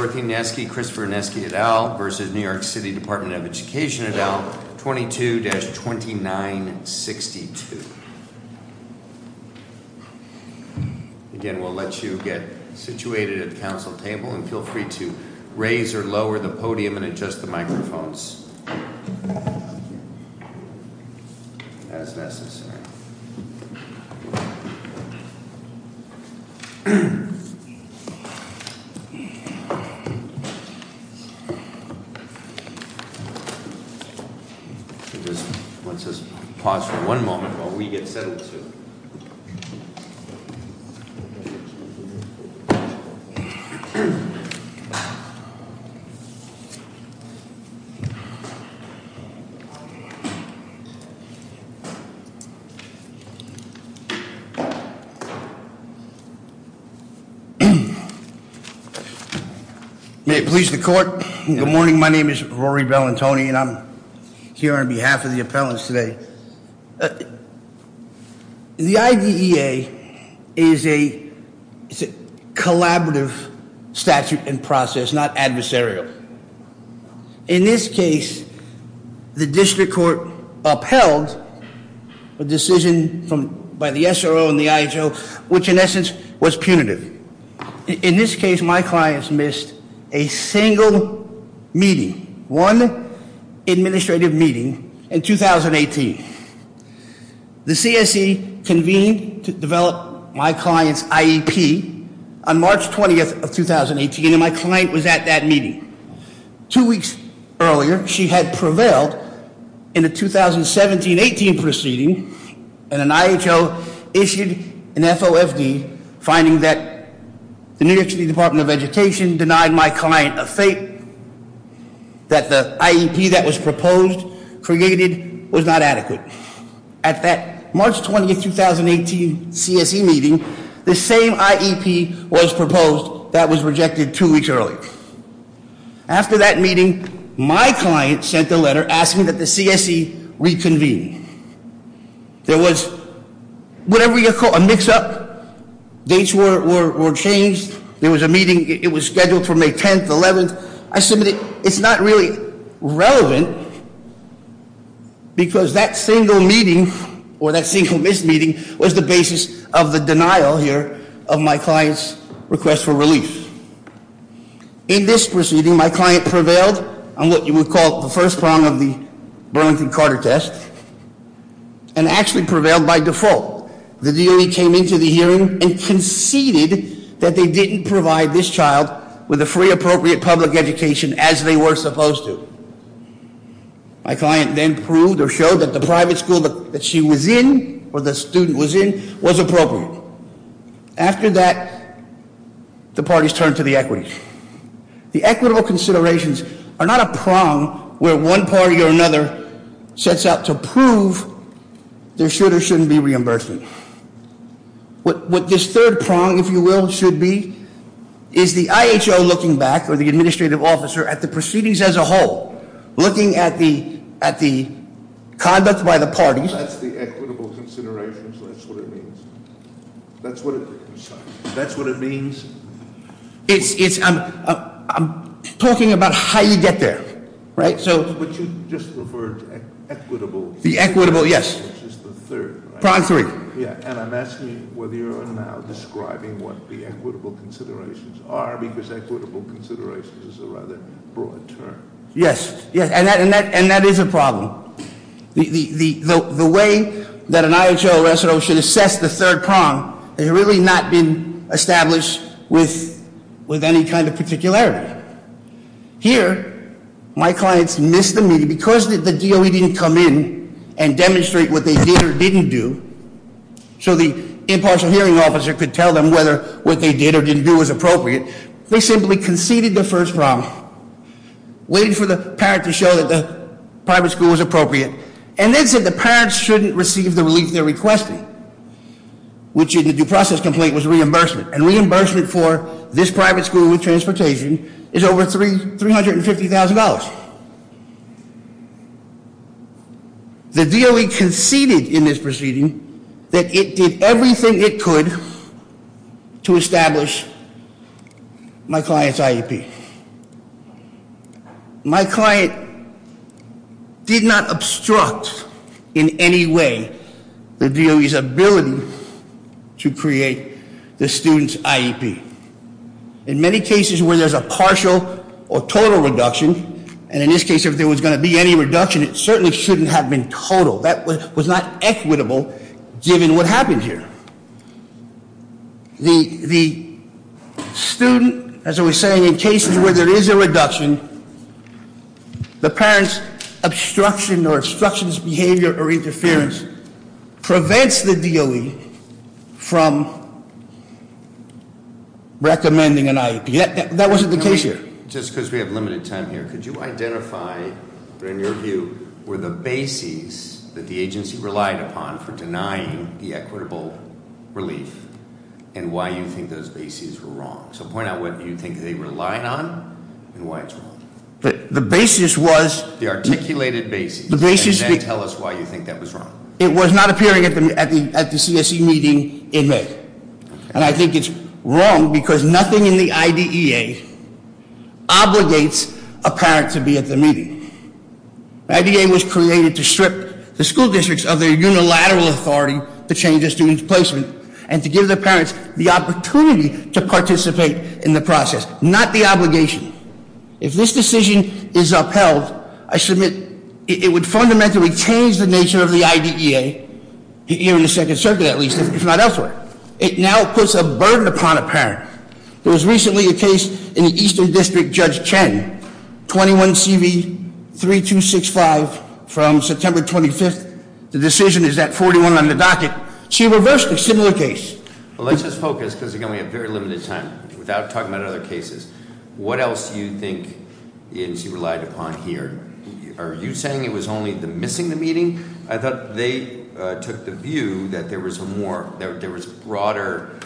v. New York City Department of Education et al. 22-2962. Again, we'll let you get situated at the council table and feel free to raise or lower the podium and adjust the microphones as necessary. Just let's just pause for one moment while we get settled too. May it please the court. Good morning, my name is Rory Bellantoni and I'm here on behalf of the appellants today. The IDEA is a collaborative statute and process, not adversarial. In this case, the district court upheld a decision by the SRO and the IHO, which in essence was punitive. In this case, my clients missed a single meeting, one administrative meeting in 2018. The CSE convened to develop my client's IEP on March 20th of 2018 and my client was at that meeting. Two weeks earlier, she had prevailed in a 2017-18 proceeding and an IHO issued an FOFD finding that the New York City Department of Education denied my client a fate, that the IEP that was proposed, created, was not adequate. At that March 20th, 2018 CSE meeting, the same IEP was proposed that was rejected two weeks earlier. After that meeting, my client sent a letter asking that the CSE reconvene. There was a mix up, dates were changed. There was a meeting, it was scheduled for May 10th, 11th. I submitted, it's not really relevant because that single meeting or that single missed meeting was the basis of the denial here of my client's request for release. In this proceeding, my client prevailed on what you would call the first prong of the Burlington Carter test and actually prevailed by default. The DOE came into the hearing and conceded that they didn't provide this child with a free appropriate public education as they were supposed to. My client then proved or showed that the private school that she was in, or the student was in, was appropriate. After that, the parties turned to the equity. The equitable considerations are not a prong where one party or another sets out to prove there should or shouldn't be reimbursement. What this third prong, if you will, should be, is the IHO looking back, or the administrative officer, at the proceedings as a whole, looking at the conduct by the parties. That's the equitable considerations, that's what it means. That's what it means. It's, I'm talking about how you get there, right? So- But you just referred to equitable- The equitable, yes. Which is the third, right? Prong three. Yeah, and I'm asking whether you're now describing what the equitable considerations are, because equitable considerations is a rather broad term. Yes, yes, and that is a problem. The way that an IHO resident should assess the third prong has really not been established with any kind of particularity. Here, my clients missed the meeting because the DOE didn't come in and demonstrate what they did or didn't do. So the impartial hearing officer could tell them whether what they did or didn't do was appropriate. They simply conceded the first prong, waiting for the parent to show that the private school was appropriate. And then said the parents shouldn't receive the relief they're requesting, which in the due process complaint was reimbursement. And reimbursement for this private school with transportation is over $350,000. The DOE conceded in this proceeding that it did everything it could to establish my client's IEP. My client did not obstruct in any way the DOE's ability to create the student's IEP. In many cases where there's a partial or total reduction, and in this case if there was going to be any reduction, it certainly shouldn't have been total. That was not equitable, given what happened here. The student, as I was saying, in cases where there is a reduction, the parent's obstruction or obstructionist behavior or interference prevents the DOE from recommending an IEP, that wasn't the case here. Just because we have limited time here, could you identify, in your view, were the bases that the agency relied upon for denying the equitable relief? And why you think those bases were wrong? So point out what you think they relied on and why it's wrong. The basis was- The articulated basis, and then tell us why you think that was wrong. It was not appearing at the CSE meeting in May. And I think it's wrong because nothing in the IDEA obligates a parent to be at the meeting. The IDEA was created to strip the school districts of their unilateral authority to change the student's placement. And to give the parents the opportunity to participate in the process, not the obligation. If this decision is upheld, I submit it would fundamentally change the nature of the IDEA. Here in the second circuit at least, if not elsewhere. It now puts a burden upon a parent. There was recently a case in the Eastern District, Judge Chen, 21 CV 3265 from September 25th. The decision is at 41 on the docket. She reversed a similar case. Well, let's just focus, because again, we have very limited time, without talking about other cases. What else do you think the agency relied upon here? Are you saying it was only the missing the meeting? I thought they took the view that there was a broader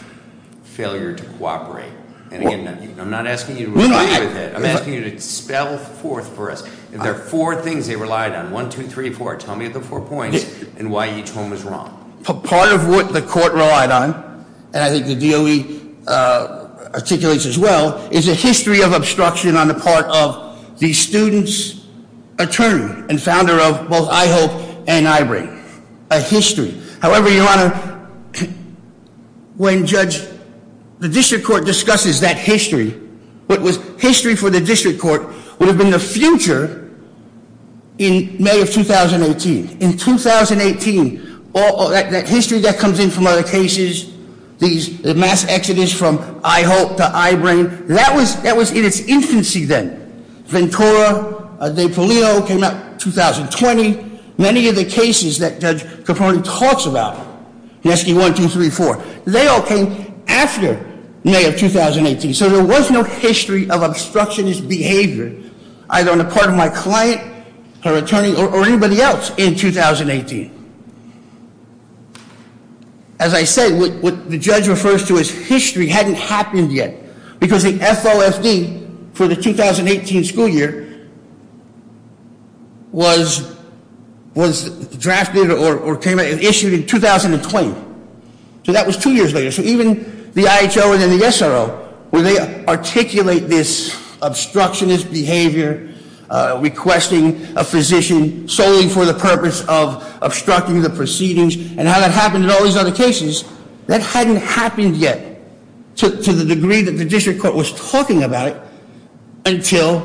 failure to cooperate. And again, I'm not asking you to agree with it. I'm asking you to spell forth for us. There are four things they relied on. One, two, three, four. Tell me the four points and why each one was wrong. Part of what the court relied on, and I think the DOE articulates as well, is a history of obstruction on the part of the student's attorney and the founder of both IHOPE and IBRANE, a history. However, your honor, when Judge, the district court discusses that history, what was history for the district court would have been the future in May of 2018. In 2018, that history that comes in from other cases, these mass exodus from IHOPE to IBRANE, that was in its infancy then. Ventura, De Palio came out in 2020, many of the cases that Judge Capone talks about. He's asking one, two, three, four. They all came after May of 2018, so there was no history of obstructionist behavior, either on the part of my client, her attorney, or anybody else in 2018. As I said, what the judge refers to as history hadn't happened yet. Because the FOFD for the 2018 school year was drafted or came out and issued in 2020, so that was two years later. So even the IHO and then the SRO, where they articulate this obstructionist behavior, requesting a physician solely for the purpose of obstructing the proceedings, and how that happened in all these other cases, that hadn't happened yet, to the degree that the district court was talking about it, until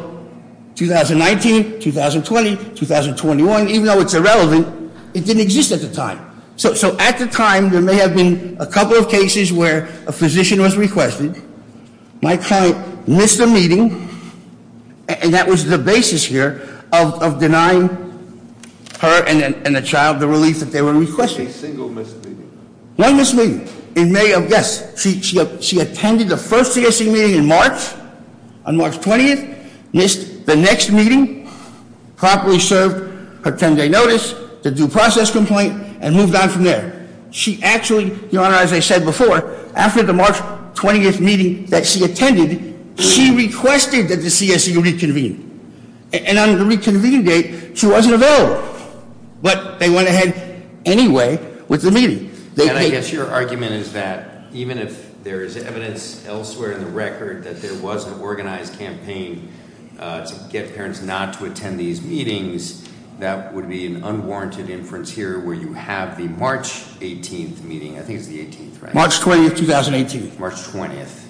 2019, 2020, 2021, even though it's irrelevant, it didn't exist at the time. So at the time, there may have been a couple of cases where a physician was requested. My client missed a meeting, and that was the basis here of denying her and the child the relief that they were requesting. A single missed meeting? One missed meeting. In May of, yes, she attended the first CSE meeting in March, on March 20th, missed the next meeting, properly served her 10 day notice, the due process complaint, and moved on from there. She actually, Your Honor, as I said before, after the March 20th meeting that she attended, she requested that the CSE reconvene, and on the reconvene date, she wasn't available. But they went ahead anyway with the meeting. They- And I guess your argument is that even if there is evidence elsewhere in the record that there was an organized campaign to get parents not to attend these meetings, that would be an unwarranted inference here, where you have the March 18th meeting, I think it's the 18th, right? March 20th, 2018. March 20th,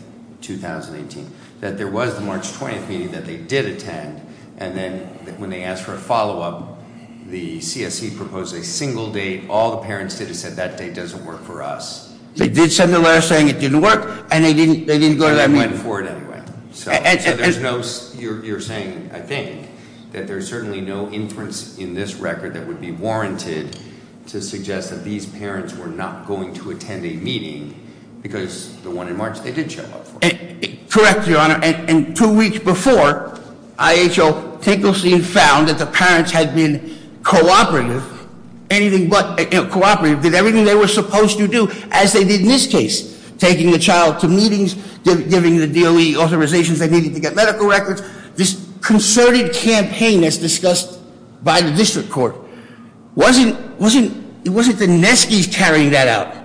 2018, that there was the March 20th meeting that they did attend, and then when they asked for a follow up, the CSE proposed a single date. All the parents did is said that date doesn't work for us. They did send a letter saying it didn't work, and they didn't go to that meeting. They went for it anyway. So there's no, you're saying, I think, that there's certainly no inference in this record that would be warranted to suggest that these parents were not going to attend a meeting because the one in March, they didn't show up for it. Correct, your honor, and two weeks before, IHO Tinklestein found that the parents had been cooperative, anything but cooperative, did everything they were supposed to do, as they did in this case. Taking the child to meetings, giving the DOE authorizations they needed to get medical records. This concerted campaign as discussed by the district court. It wasn't the Neskis carrying that out.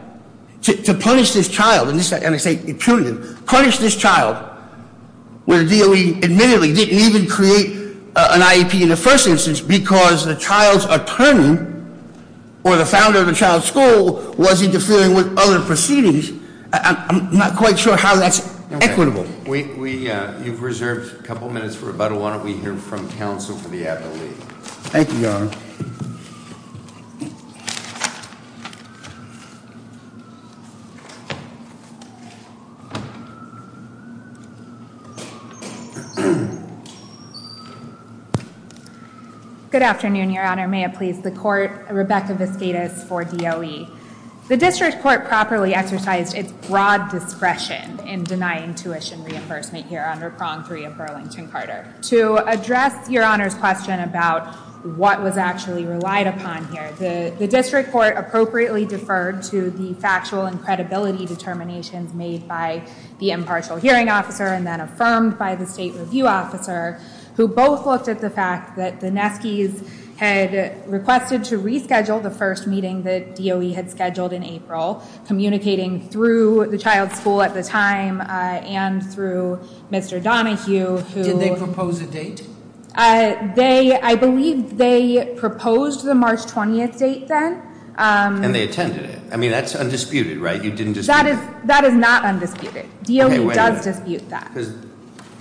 To punish this child, and I say punitive, punish this child. Where the DOE admittedly didn't even create an IEP in the first instance because the child's attorney or the founder of the child's school was interfering with other proceedings. I'm not quite sure how that's equitable. We, you've reserved a couple minutes for rebuttal. Why don't we hear from counsel for the advocate? Thank you, your honor. Good afternoon, your honor. May it please the court. Rebecca Vasquez for DOE. The district court properly exercised its broad discretion in denying tuition reimbursement here under prong three of Burlington-Carter. To address your honor's question about what was actually relied upon here, the district court appropriately deferred to the factual and credibility determinations made by the impartial hearing officer and then affirmed by the state review officer. Who both looked at the fact that the Neskis had requested to reschedule the first meeting that DOE had scheduled in April. Communicating through the child's school at the time and through Mr. Donahue, who- Did they propose a date? They, I believe they proposed the March 20th date then. And they attended it. I mean, that's undisputed, right? You didn't dispute it. That is not undisputed. DOE does dispute that. Because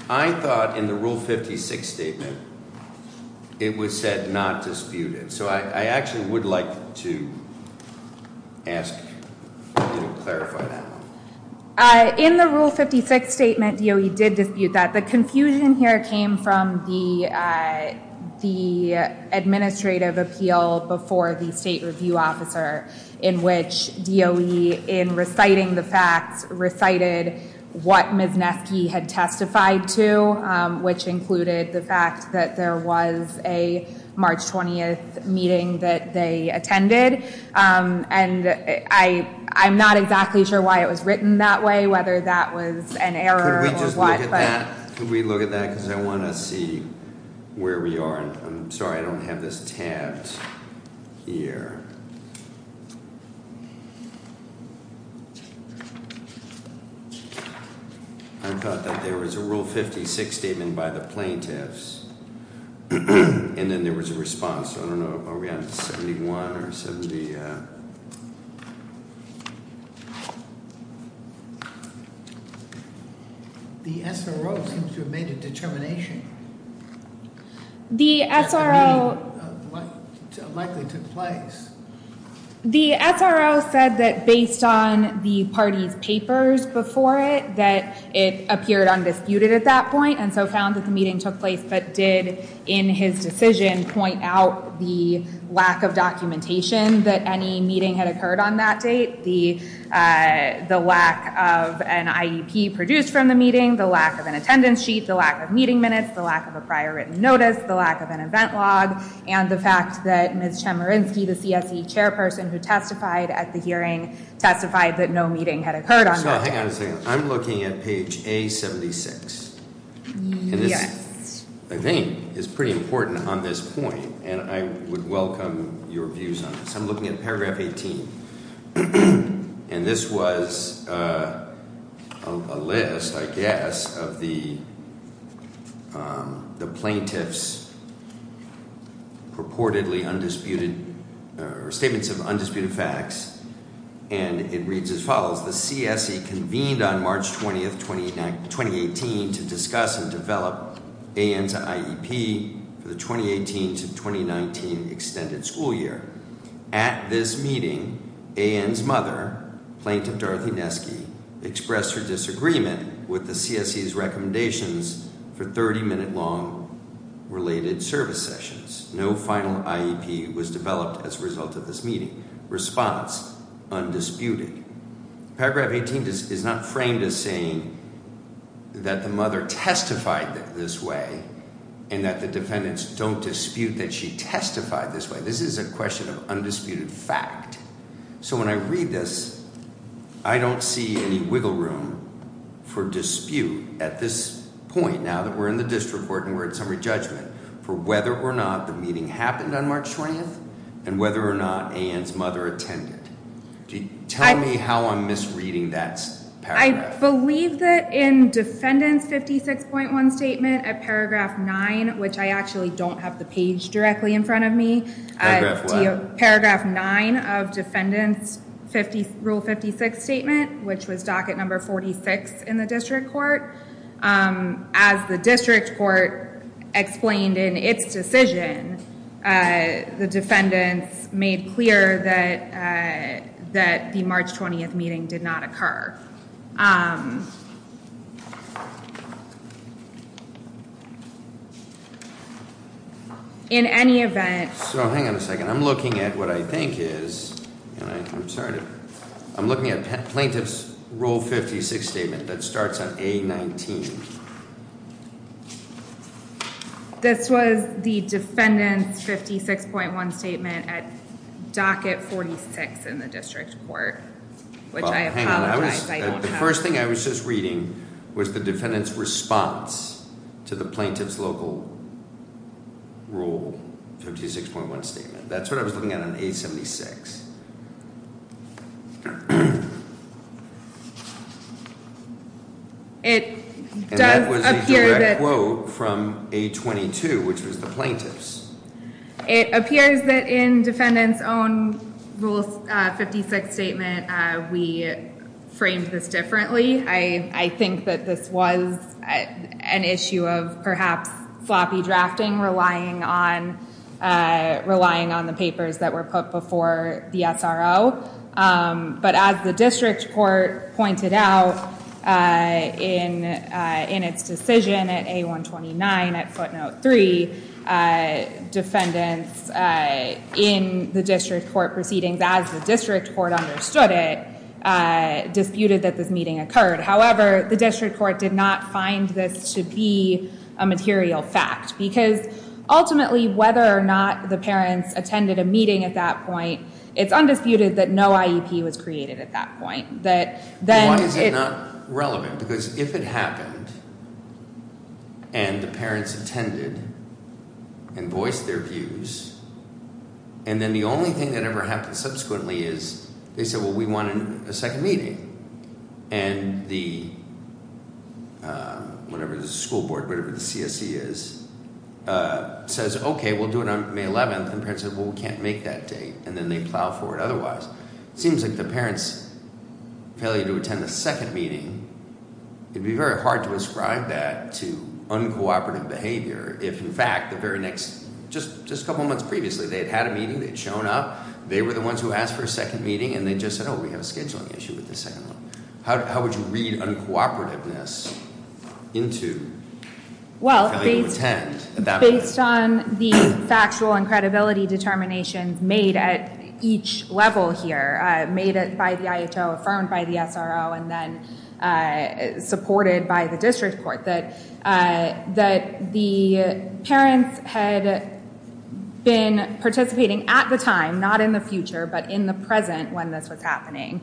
I thought in the rule 56 statement, it was said not disputed. So I actually would like to ask you to clarify that. In the rule 56 statement, DOE did dispute that. The confusion here came from the administrative appeal before the state review officer. In which DOE, in reciting the facts, recited what Ms. Nesky had testified to. Which included the fact that there was a March 20th meeting that they attended. And I'm not exactly sure why it was written that way, whether that was an error or what. Could we just look at that, could we look at that, because I want to see where we are. I'm sorry, I don't have this tabbed here. I thought that there was a rule 56 statement by the plaintiffs. And then there was a response, so I don't know, are we on 71 or 70? The SRO seems to have made a determination. The SRO. Likely took place. The SRO said that based on the party's papers before it. That it appeared undisputed at that point. And so found that the meeting took place. But did, in his decision, point out the lack of documentation. That any meeting had occurred on that date. The lack of an IEP produced from the meeting. The lack of an attendance sheet. The lack of meeting minutes. The lack of a prior written notice. The lack of an event log. And the fact that Ms. Chemerinsky, the CSE chairperson who testified at the hearing. Testified that no meeting had occurred on that day. So hang on a second, I'm looking at page A76. And this, I think, is pretty important on this point. And I would welcome your views on this. I'm looking at paragraph 18. And this was a list, I guess, Of the plaintiff's purportedly undisputed. Or statements of undisputed facts. And it reads as follows. The CSE convened on March 20th, 2018. To discuss and develop AN's IEP for the 2018 to 2019 extended school year. At this meeting, AN's mother, Plaintiff Dorothy Nesky. Expressed her disagreement with the CSE's recommendations. For 30 minute long related service sessions. No final IEP was developed as a result of this meeting. Response, undisputed. Paragraph 18 is not framed as saying that the mother testified this way. And that the defendants don't dispute that she testified this way. This is a question of undisputed fact. So when I read this, I don't see any wiggle room for dispute at this point. Now that we're in the district court and we're in summary judgment. For whether or not the meeting happened on March 20th. And whether or not AN's mother attended. Tell me how I'm misreading that paragraph. I believe that in defendant's 56.1 statement at paragraph 9. Which I actually don't have the page directly in front of me. Paragraph 11. Of defendant's rule 56 statement. Which was docket number 46 in the district court. As the district court explained in its decision. The defendants made clear that the March 20th meeting did not occur. In any event. So hang on a second. I'm looking at what I think is. And I'm sorry to. I'm looking at plaintiff's rule 56 statement that starts at A19. This was the defendant's 56.1 statement at docket 46 in the district court. Which I apologize I don't have. The first thing I was just reading. Was the defendant's response to the plaintiff's local rule. 56.1 statement. That's what I was looking at on A76. It does appear that quote from a 22, which was the plaintiffs. It appears that in defendants own rule 56 statement. We framed this differently. I think that this was an issue of perhaps sloppy drafting. Relying on the papers that were put before the SRO. But as the district court pointed out in its decision at A129. At footnote three. Defendants in the district court proceedings. As the district court understood it. Disputed that this meeting occurred. However, the district court did not find this to be a material fact. Because ultimately, whether or not the parents attended a meeting at that point. It's undisputed that no IEP was created at that point. That then it's. Why is it not relevant? Because if it happened. And the parents attended and voiced their views. And then the only thing that ever happened subsequently is. They said, well, we wanted a second meeting. And the, whatever the school board, whatever the CSE is, says, okay. We'll do it on May 11th. And parents said, well, we can't make that date. And then they plow forward otherwise. Seems like the parents failure to attend the second meeting. It'd be very hard to ascribe that to uncooperative behavior. If in fact, the very next, just a couple months previously. They had had a meeting. They'd shown up. They were the ones who asked for a second meeting. And they just said, we have a scheduling issue with the second one. How would you read uncooperativeness into failure to attend at that point? Based on the factual and credibility determination made at each level here. Made it by the IHO, affirmed by the SRO, and then supported by the district court. That the parents had been participating at the time. Not in the future, but in the present when this was happening.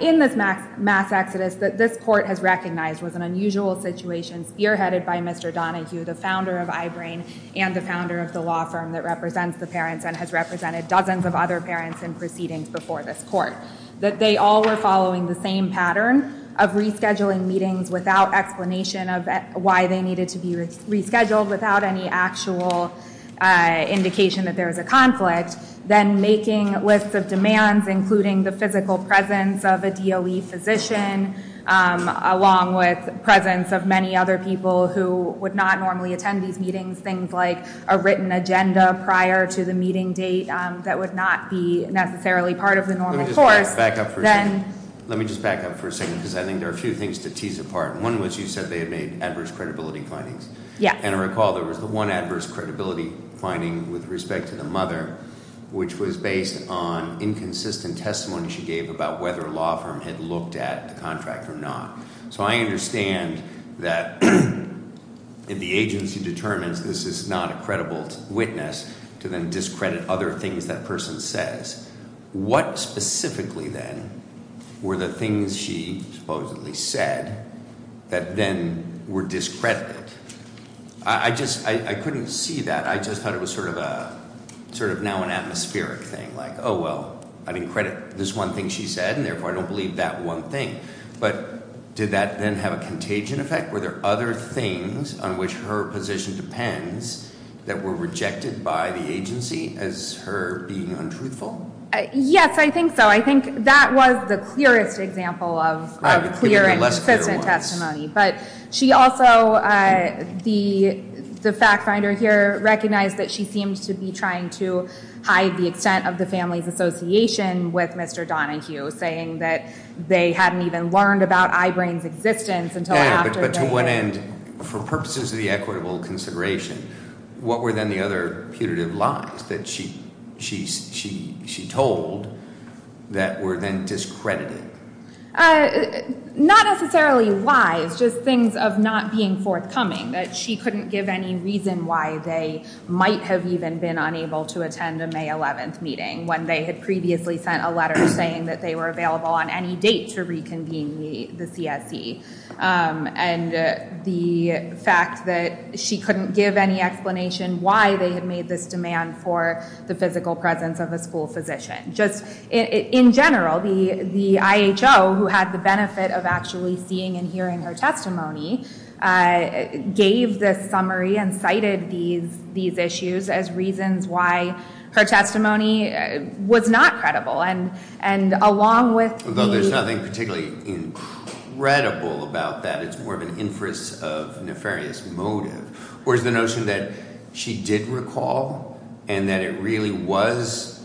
In this mass exodus, that this court has recognized was an unusual situation. Spearheaded by Mr. Donahue, the founder of I-Brain. And the founder of the law firm that represents the parents. And has represented dozens of other parents in proceedings before this court. That they all were following the same pattern of rescheduling meetings without explanation of why they needed to be rescheduled. Without any actual indication that there was a conflict. Then making a list of demands, including the physical presence of a DOE physician. Along with presence of many other people who would not normally attend these meetings. Things like a written agenda prior to the meeting date that would not be necessarily part of the normal course. Then- Let me just back up for a second, because I think there are a few things to tease apart. One was you said they had made adverse credibility findings. Yeah. And I recall there was the one adverse credibility finding with respect to the mother. Which was based on inconsistent testimony she gave about whether a law firm had looked at the contract or not. So I understand that if the agency determines this is not a credible witness. To then discredit other things that person says. What specifically then were the things she supposedly said. That then were discredited. I just, I couldn't see that. I just thought it was sort of now an atmospheric thing. Like, well, I didn't credit this one thing she said, and therefore I don't believe that one thing. But did that then have a contagion effect? Were there other things on which her position depends that were rejected by the agency as her being untruthful? Yes, I think so. I think that was the clearest example of clear and consistent testimony. But she also, the fact finder here, recognized that she seemed to be trying to hide the extent of the family's association with Mr. Donahue, saying that they hadn't even learned about I-Brain's existence until after- But to one end, for purposes of the equitable consideration, what were then the other putative lies that she told that were then discredited? Not necessarily lies, just things of not being forthcoming. That she couldn't give any reason why they might have even been unable to attend a May 11th meeting, when they had previously sent a letter saying that they were available on any date to reconvene the CSE. And the fact that she couldn't give any explanation why they had made this demand for the physical presence of a school physician, just in general, the IHO, who had the benefit of actually seeing and hearing her testimony, gave this summary and cited these issues as reasons why her testimony was not credible. And along with the- It's not credible about that, it's more of an inference of nefarious motive. Whereas the notion that she did recall, and that it really was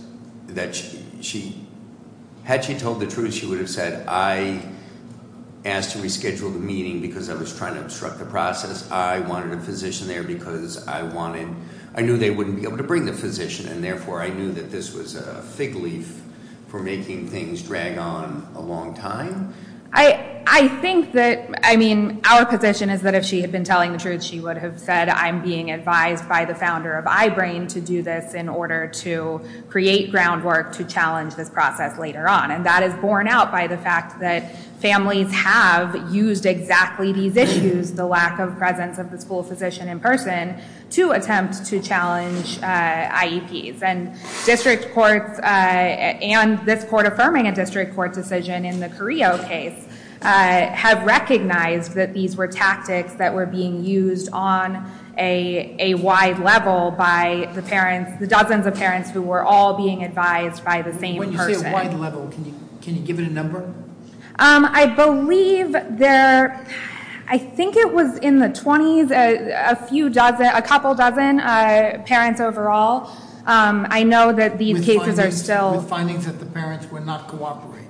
that she, had she told the truth, she would have said, I asked to reschedule the meeting because I was trying to obstruct the process. I wanted a physician there because I wanted, I knew they wouldn't be able to bring the physician, and therefore I knew that this was a fig leaf for making things drag on a long time. I think that, I mean, our position is that if she had been telling the truth, she would have said, I'm being advised by the founder of iBrain to do this in order to create groundwork to challenge this process later on. And that is borne out by the fact that families have used exactly these issues, the lack of presence of the school physician in person, to attempt to challenge IEPs. And district courts, and this court affirming a district court decision in the Carrillo case, have recognized that these were tactics that were being used on a wide level by the parents, the dozens of parents who were all being advised by the same person. When you say a wide level, can you give it a number? I believe there, I think it was in the 20s, a few dozen, a couple dozen parents overall. I know that these cases are still- With findings that the parents were not cooperating.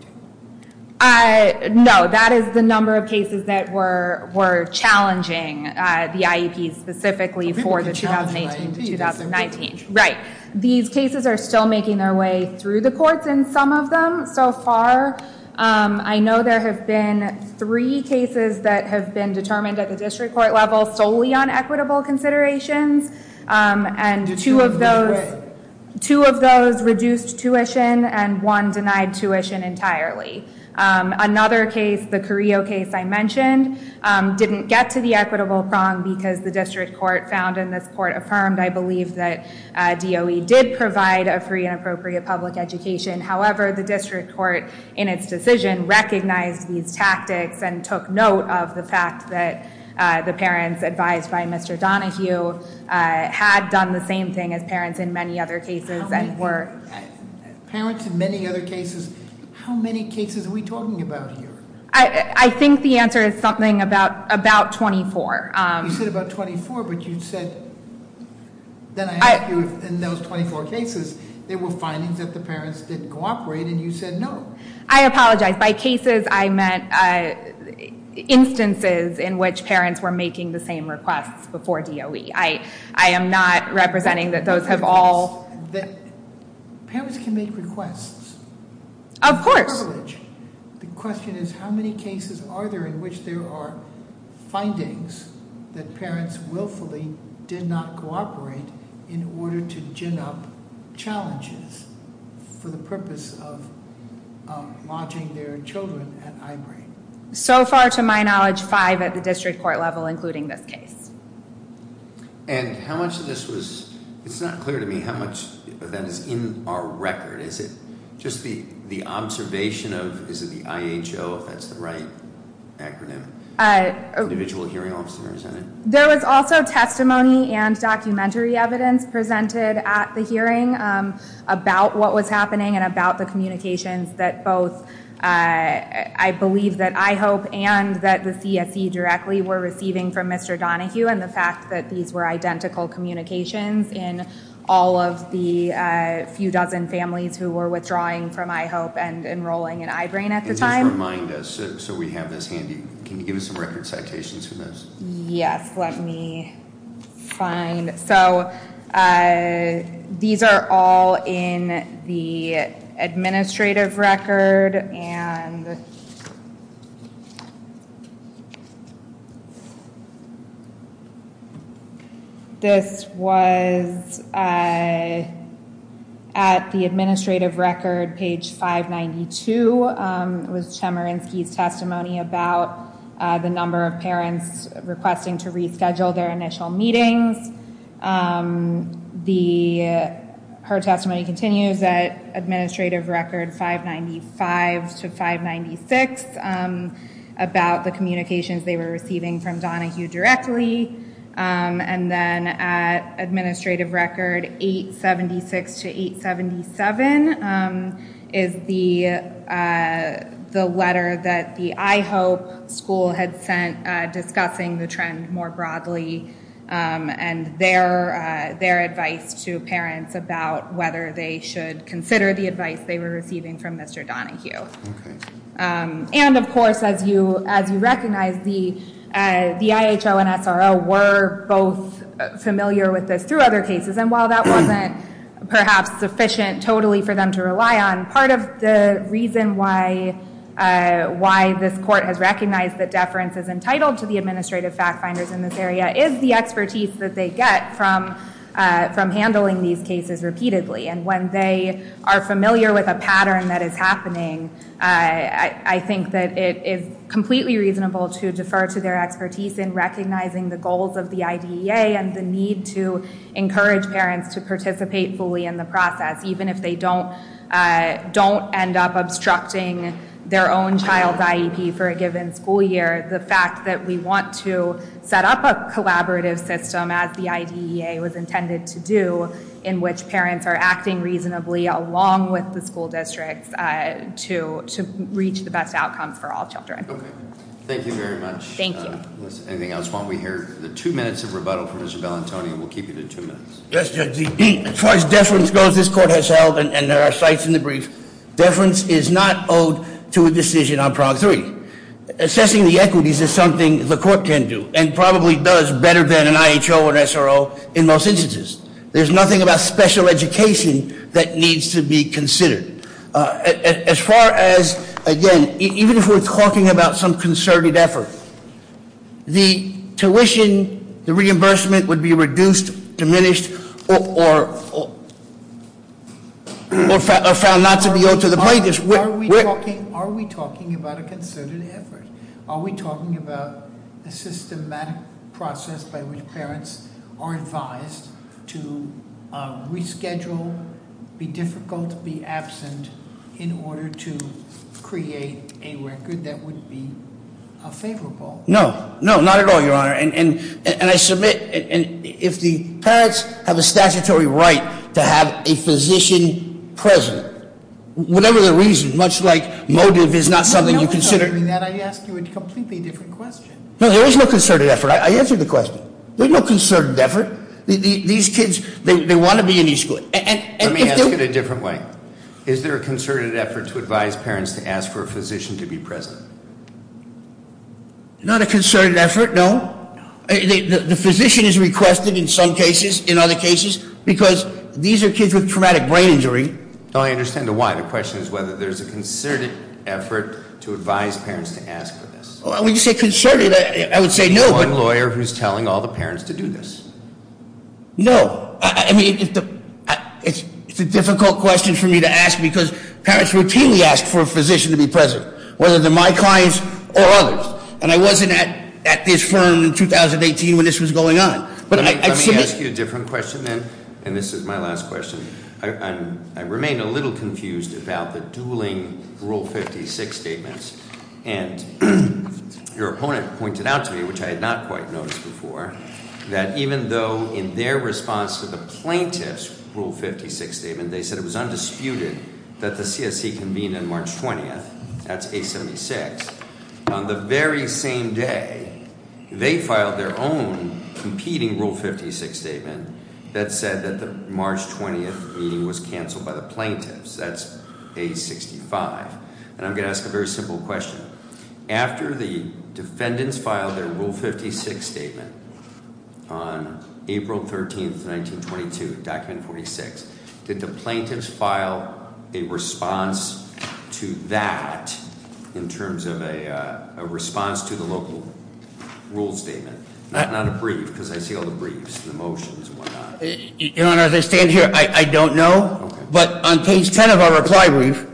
No, that is the number of cases that were challenging the IEPs specifically for the 2018-2019. Right. These cases are still making their way through the courts in some of them so far. I know there have been three cases that have been determined at the district court level solely on equitable considerations, and two of those reduced tuition and one denied tuition entirely. Another case, the Carrillo case I mentioned, didn't get to the equitable prong because the district court found, and this court affirmed, I believe that DOE did provide a free and appropriate public education. However, the district court in its decision recognized these advised by Mr. Donahue had done the same thing as parents in many other cases and were- Parents in many other cases, how many cases are we talking about here? I think the answer is something about 24. You said about 24, but you said, then I asked you in those 24 cases, there were findings that the parents didn't cooperate and you said no. I apologize. By cases, I meant instances in which parents were making the same requests before DOE. I am not representing that those have all- Parents can make requests. Of course. The question is how many cases are there in which there are findings that parents willfully did not lodging their children at high grade? So far to my knowledge, five at the district court level, including this case. And how much of this was, it's not clear to me how much of that is in our record. Is it just the observation of, is it the IHO, if that's the right acronym, individual hearing officers in it? There was also testimony and documentary evidence presented at the hearing about what was happening and about the communications that both, I believe that IHOPE and that the CSE directly were receiving from Mr. Donohue and the fact that these were identical communications in all of the few dozen families who were withdrawing from IHOPE and enrolling in I-BRAIN at the time. Just remind us, so we have this handy. Can you give us some record citations for this? Yes, let me find. So these are all in the administrative record and this was at the administrative record, page 592. It was Chemerinsky's testimony about the number of parents requesting to reschedule their initial meetings. Her testimony continues at administrative record 595 to 596 about the communications they were receiving from Donohue directly. And then at administrative record 876 to 877 is the that the IHOPE school had sent discussing the trend more broadly and their advice to parents about whether they should consider the advice they were receiving from Mr. Donohue. And of course, as you recognize, the IHO and SRO were both familiar with this through other cases and while that wasn't perhaps sufficient totally for them to rely on, part of the reason why this court has recognized that deference is entitled to the administrative fact finders in this area is the expertise that they get from handling these cases repeatedly. And when they are familiar with a pattern that is happening, I think that it is completely reasonable to defer to their expertise in recognizing the goals of the IDEA and the need to encourage parents to for a given school year, the fact that we want to set up a collaborative system as the IDEA was intended to do in which parents are acting reasonably along with the school districts to reach the best outcomes for all children. Thank you very much. Thank you. Anything else while we hear the two minutes of rebuttal from Mr. Bellantoni, we'll keep you to two minutes. As far as deference goes, this court has held, and there are sites in the brief, deference is not owed to a decision on prog three. Assessing the equities is something the court can do and probably does better than an IHO and SRO in most instances. There's nothing about special education that needs to be considered. As far as, again, even if we're talking about some concerted effort, the tuition, the reimbursement would be reduced, diminished, or found not to be owed to the plaintiffs. Are we talking about a concerted effort? Are we talking about a systematic process by which parents are advised to reschedule, be difficult, be absent in order to create a record that would be unfavorable? No, no, not at all, your honor. And I submit, and if the parents have a statutory right to have a physician present, whatever the reason, much like motive is not something you consider. That I ask you a completely different question. No, there is no concerted effort. I answered the question. There's no concerted effort. These kids, they want to be in each school. Let me ask it a different way. Is there a concerted effort to advise parents to ask for a physician to be present? Not a concerted effort, no. The physician is requested in some cases, in other cases, because these are kids with traumatic brain injury. I understand why. The question is whether there's a concerted effort to advise parents to ask for this. When you say concerted, I would say no. One lawyer who's telling all the parents to do this. No, I mean, it's a difficult question for me to ask because parents routinely ask for a physician to be present, whether they're my clients or others. And I wasn't at this firm in 2018 when this was going on. Let me ask you a different question then, and this is my last question. I remain a little confused about the dueling Rule 56 statements. And your opponent pointed out to me, which I had not quite noticed before, that even though in their response to the plaintiff's Rule 56 statement, they said it was on the very same day they filed their own competing Rule 56 statement that said that the March 20th meeting was canceled by the plaintiffs. That's age 65. And I'm going to ask a very simple question. After the defendants filed their Rule 56 statement on April 13th, 1922, Document 46, did the plaintiffs file a response to that in terms of a response to the local Rule statement? Not a brief, because I see all the briefs and the motions and whatnot. Your Honor, as I stand here, I don't know. But on page 10 of our reply brief,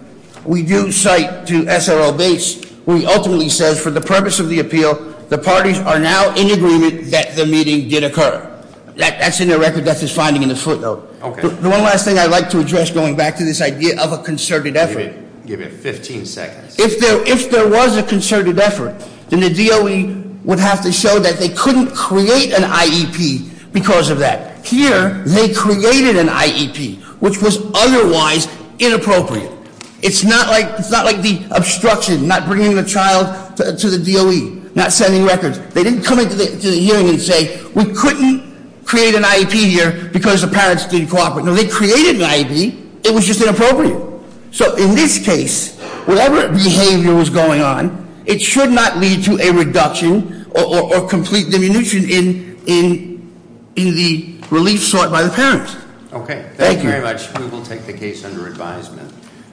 we do cite to SRO Base, where he ultimately says, for the purpose of the appeal, the parties are now in agreement that the meeting did occur. That's in their record. That's his finding in the footnote. Okay. The one last thing I'd like to address, going back to this idea of a concerted effort. Give it 15 seconds. If there was a concerted effort, then the DOE would have to show that they couldn't create an IEP because of that. Here, they created an IEP, which was otherwise inappropriate. It's not like the obstruction, not bringing the child to the DOE, not sending records. They didn't come into the hearing and say, we couldn't create an IEP here because the parents didn't cooperate. No, they created an IEP. It was just inappropriate. So in this case, whatever behavior was going on, it should not lead to a reduction or complete diminution in the relief sought by the parents. Okay. Thank you very much. We will take the case under advisement.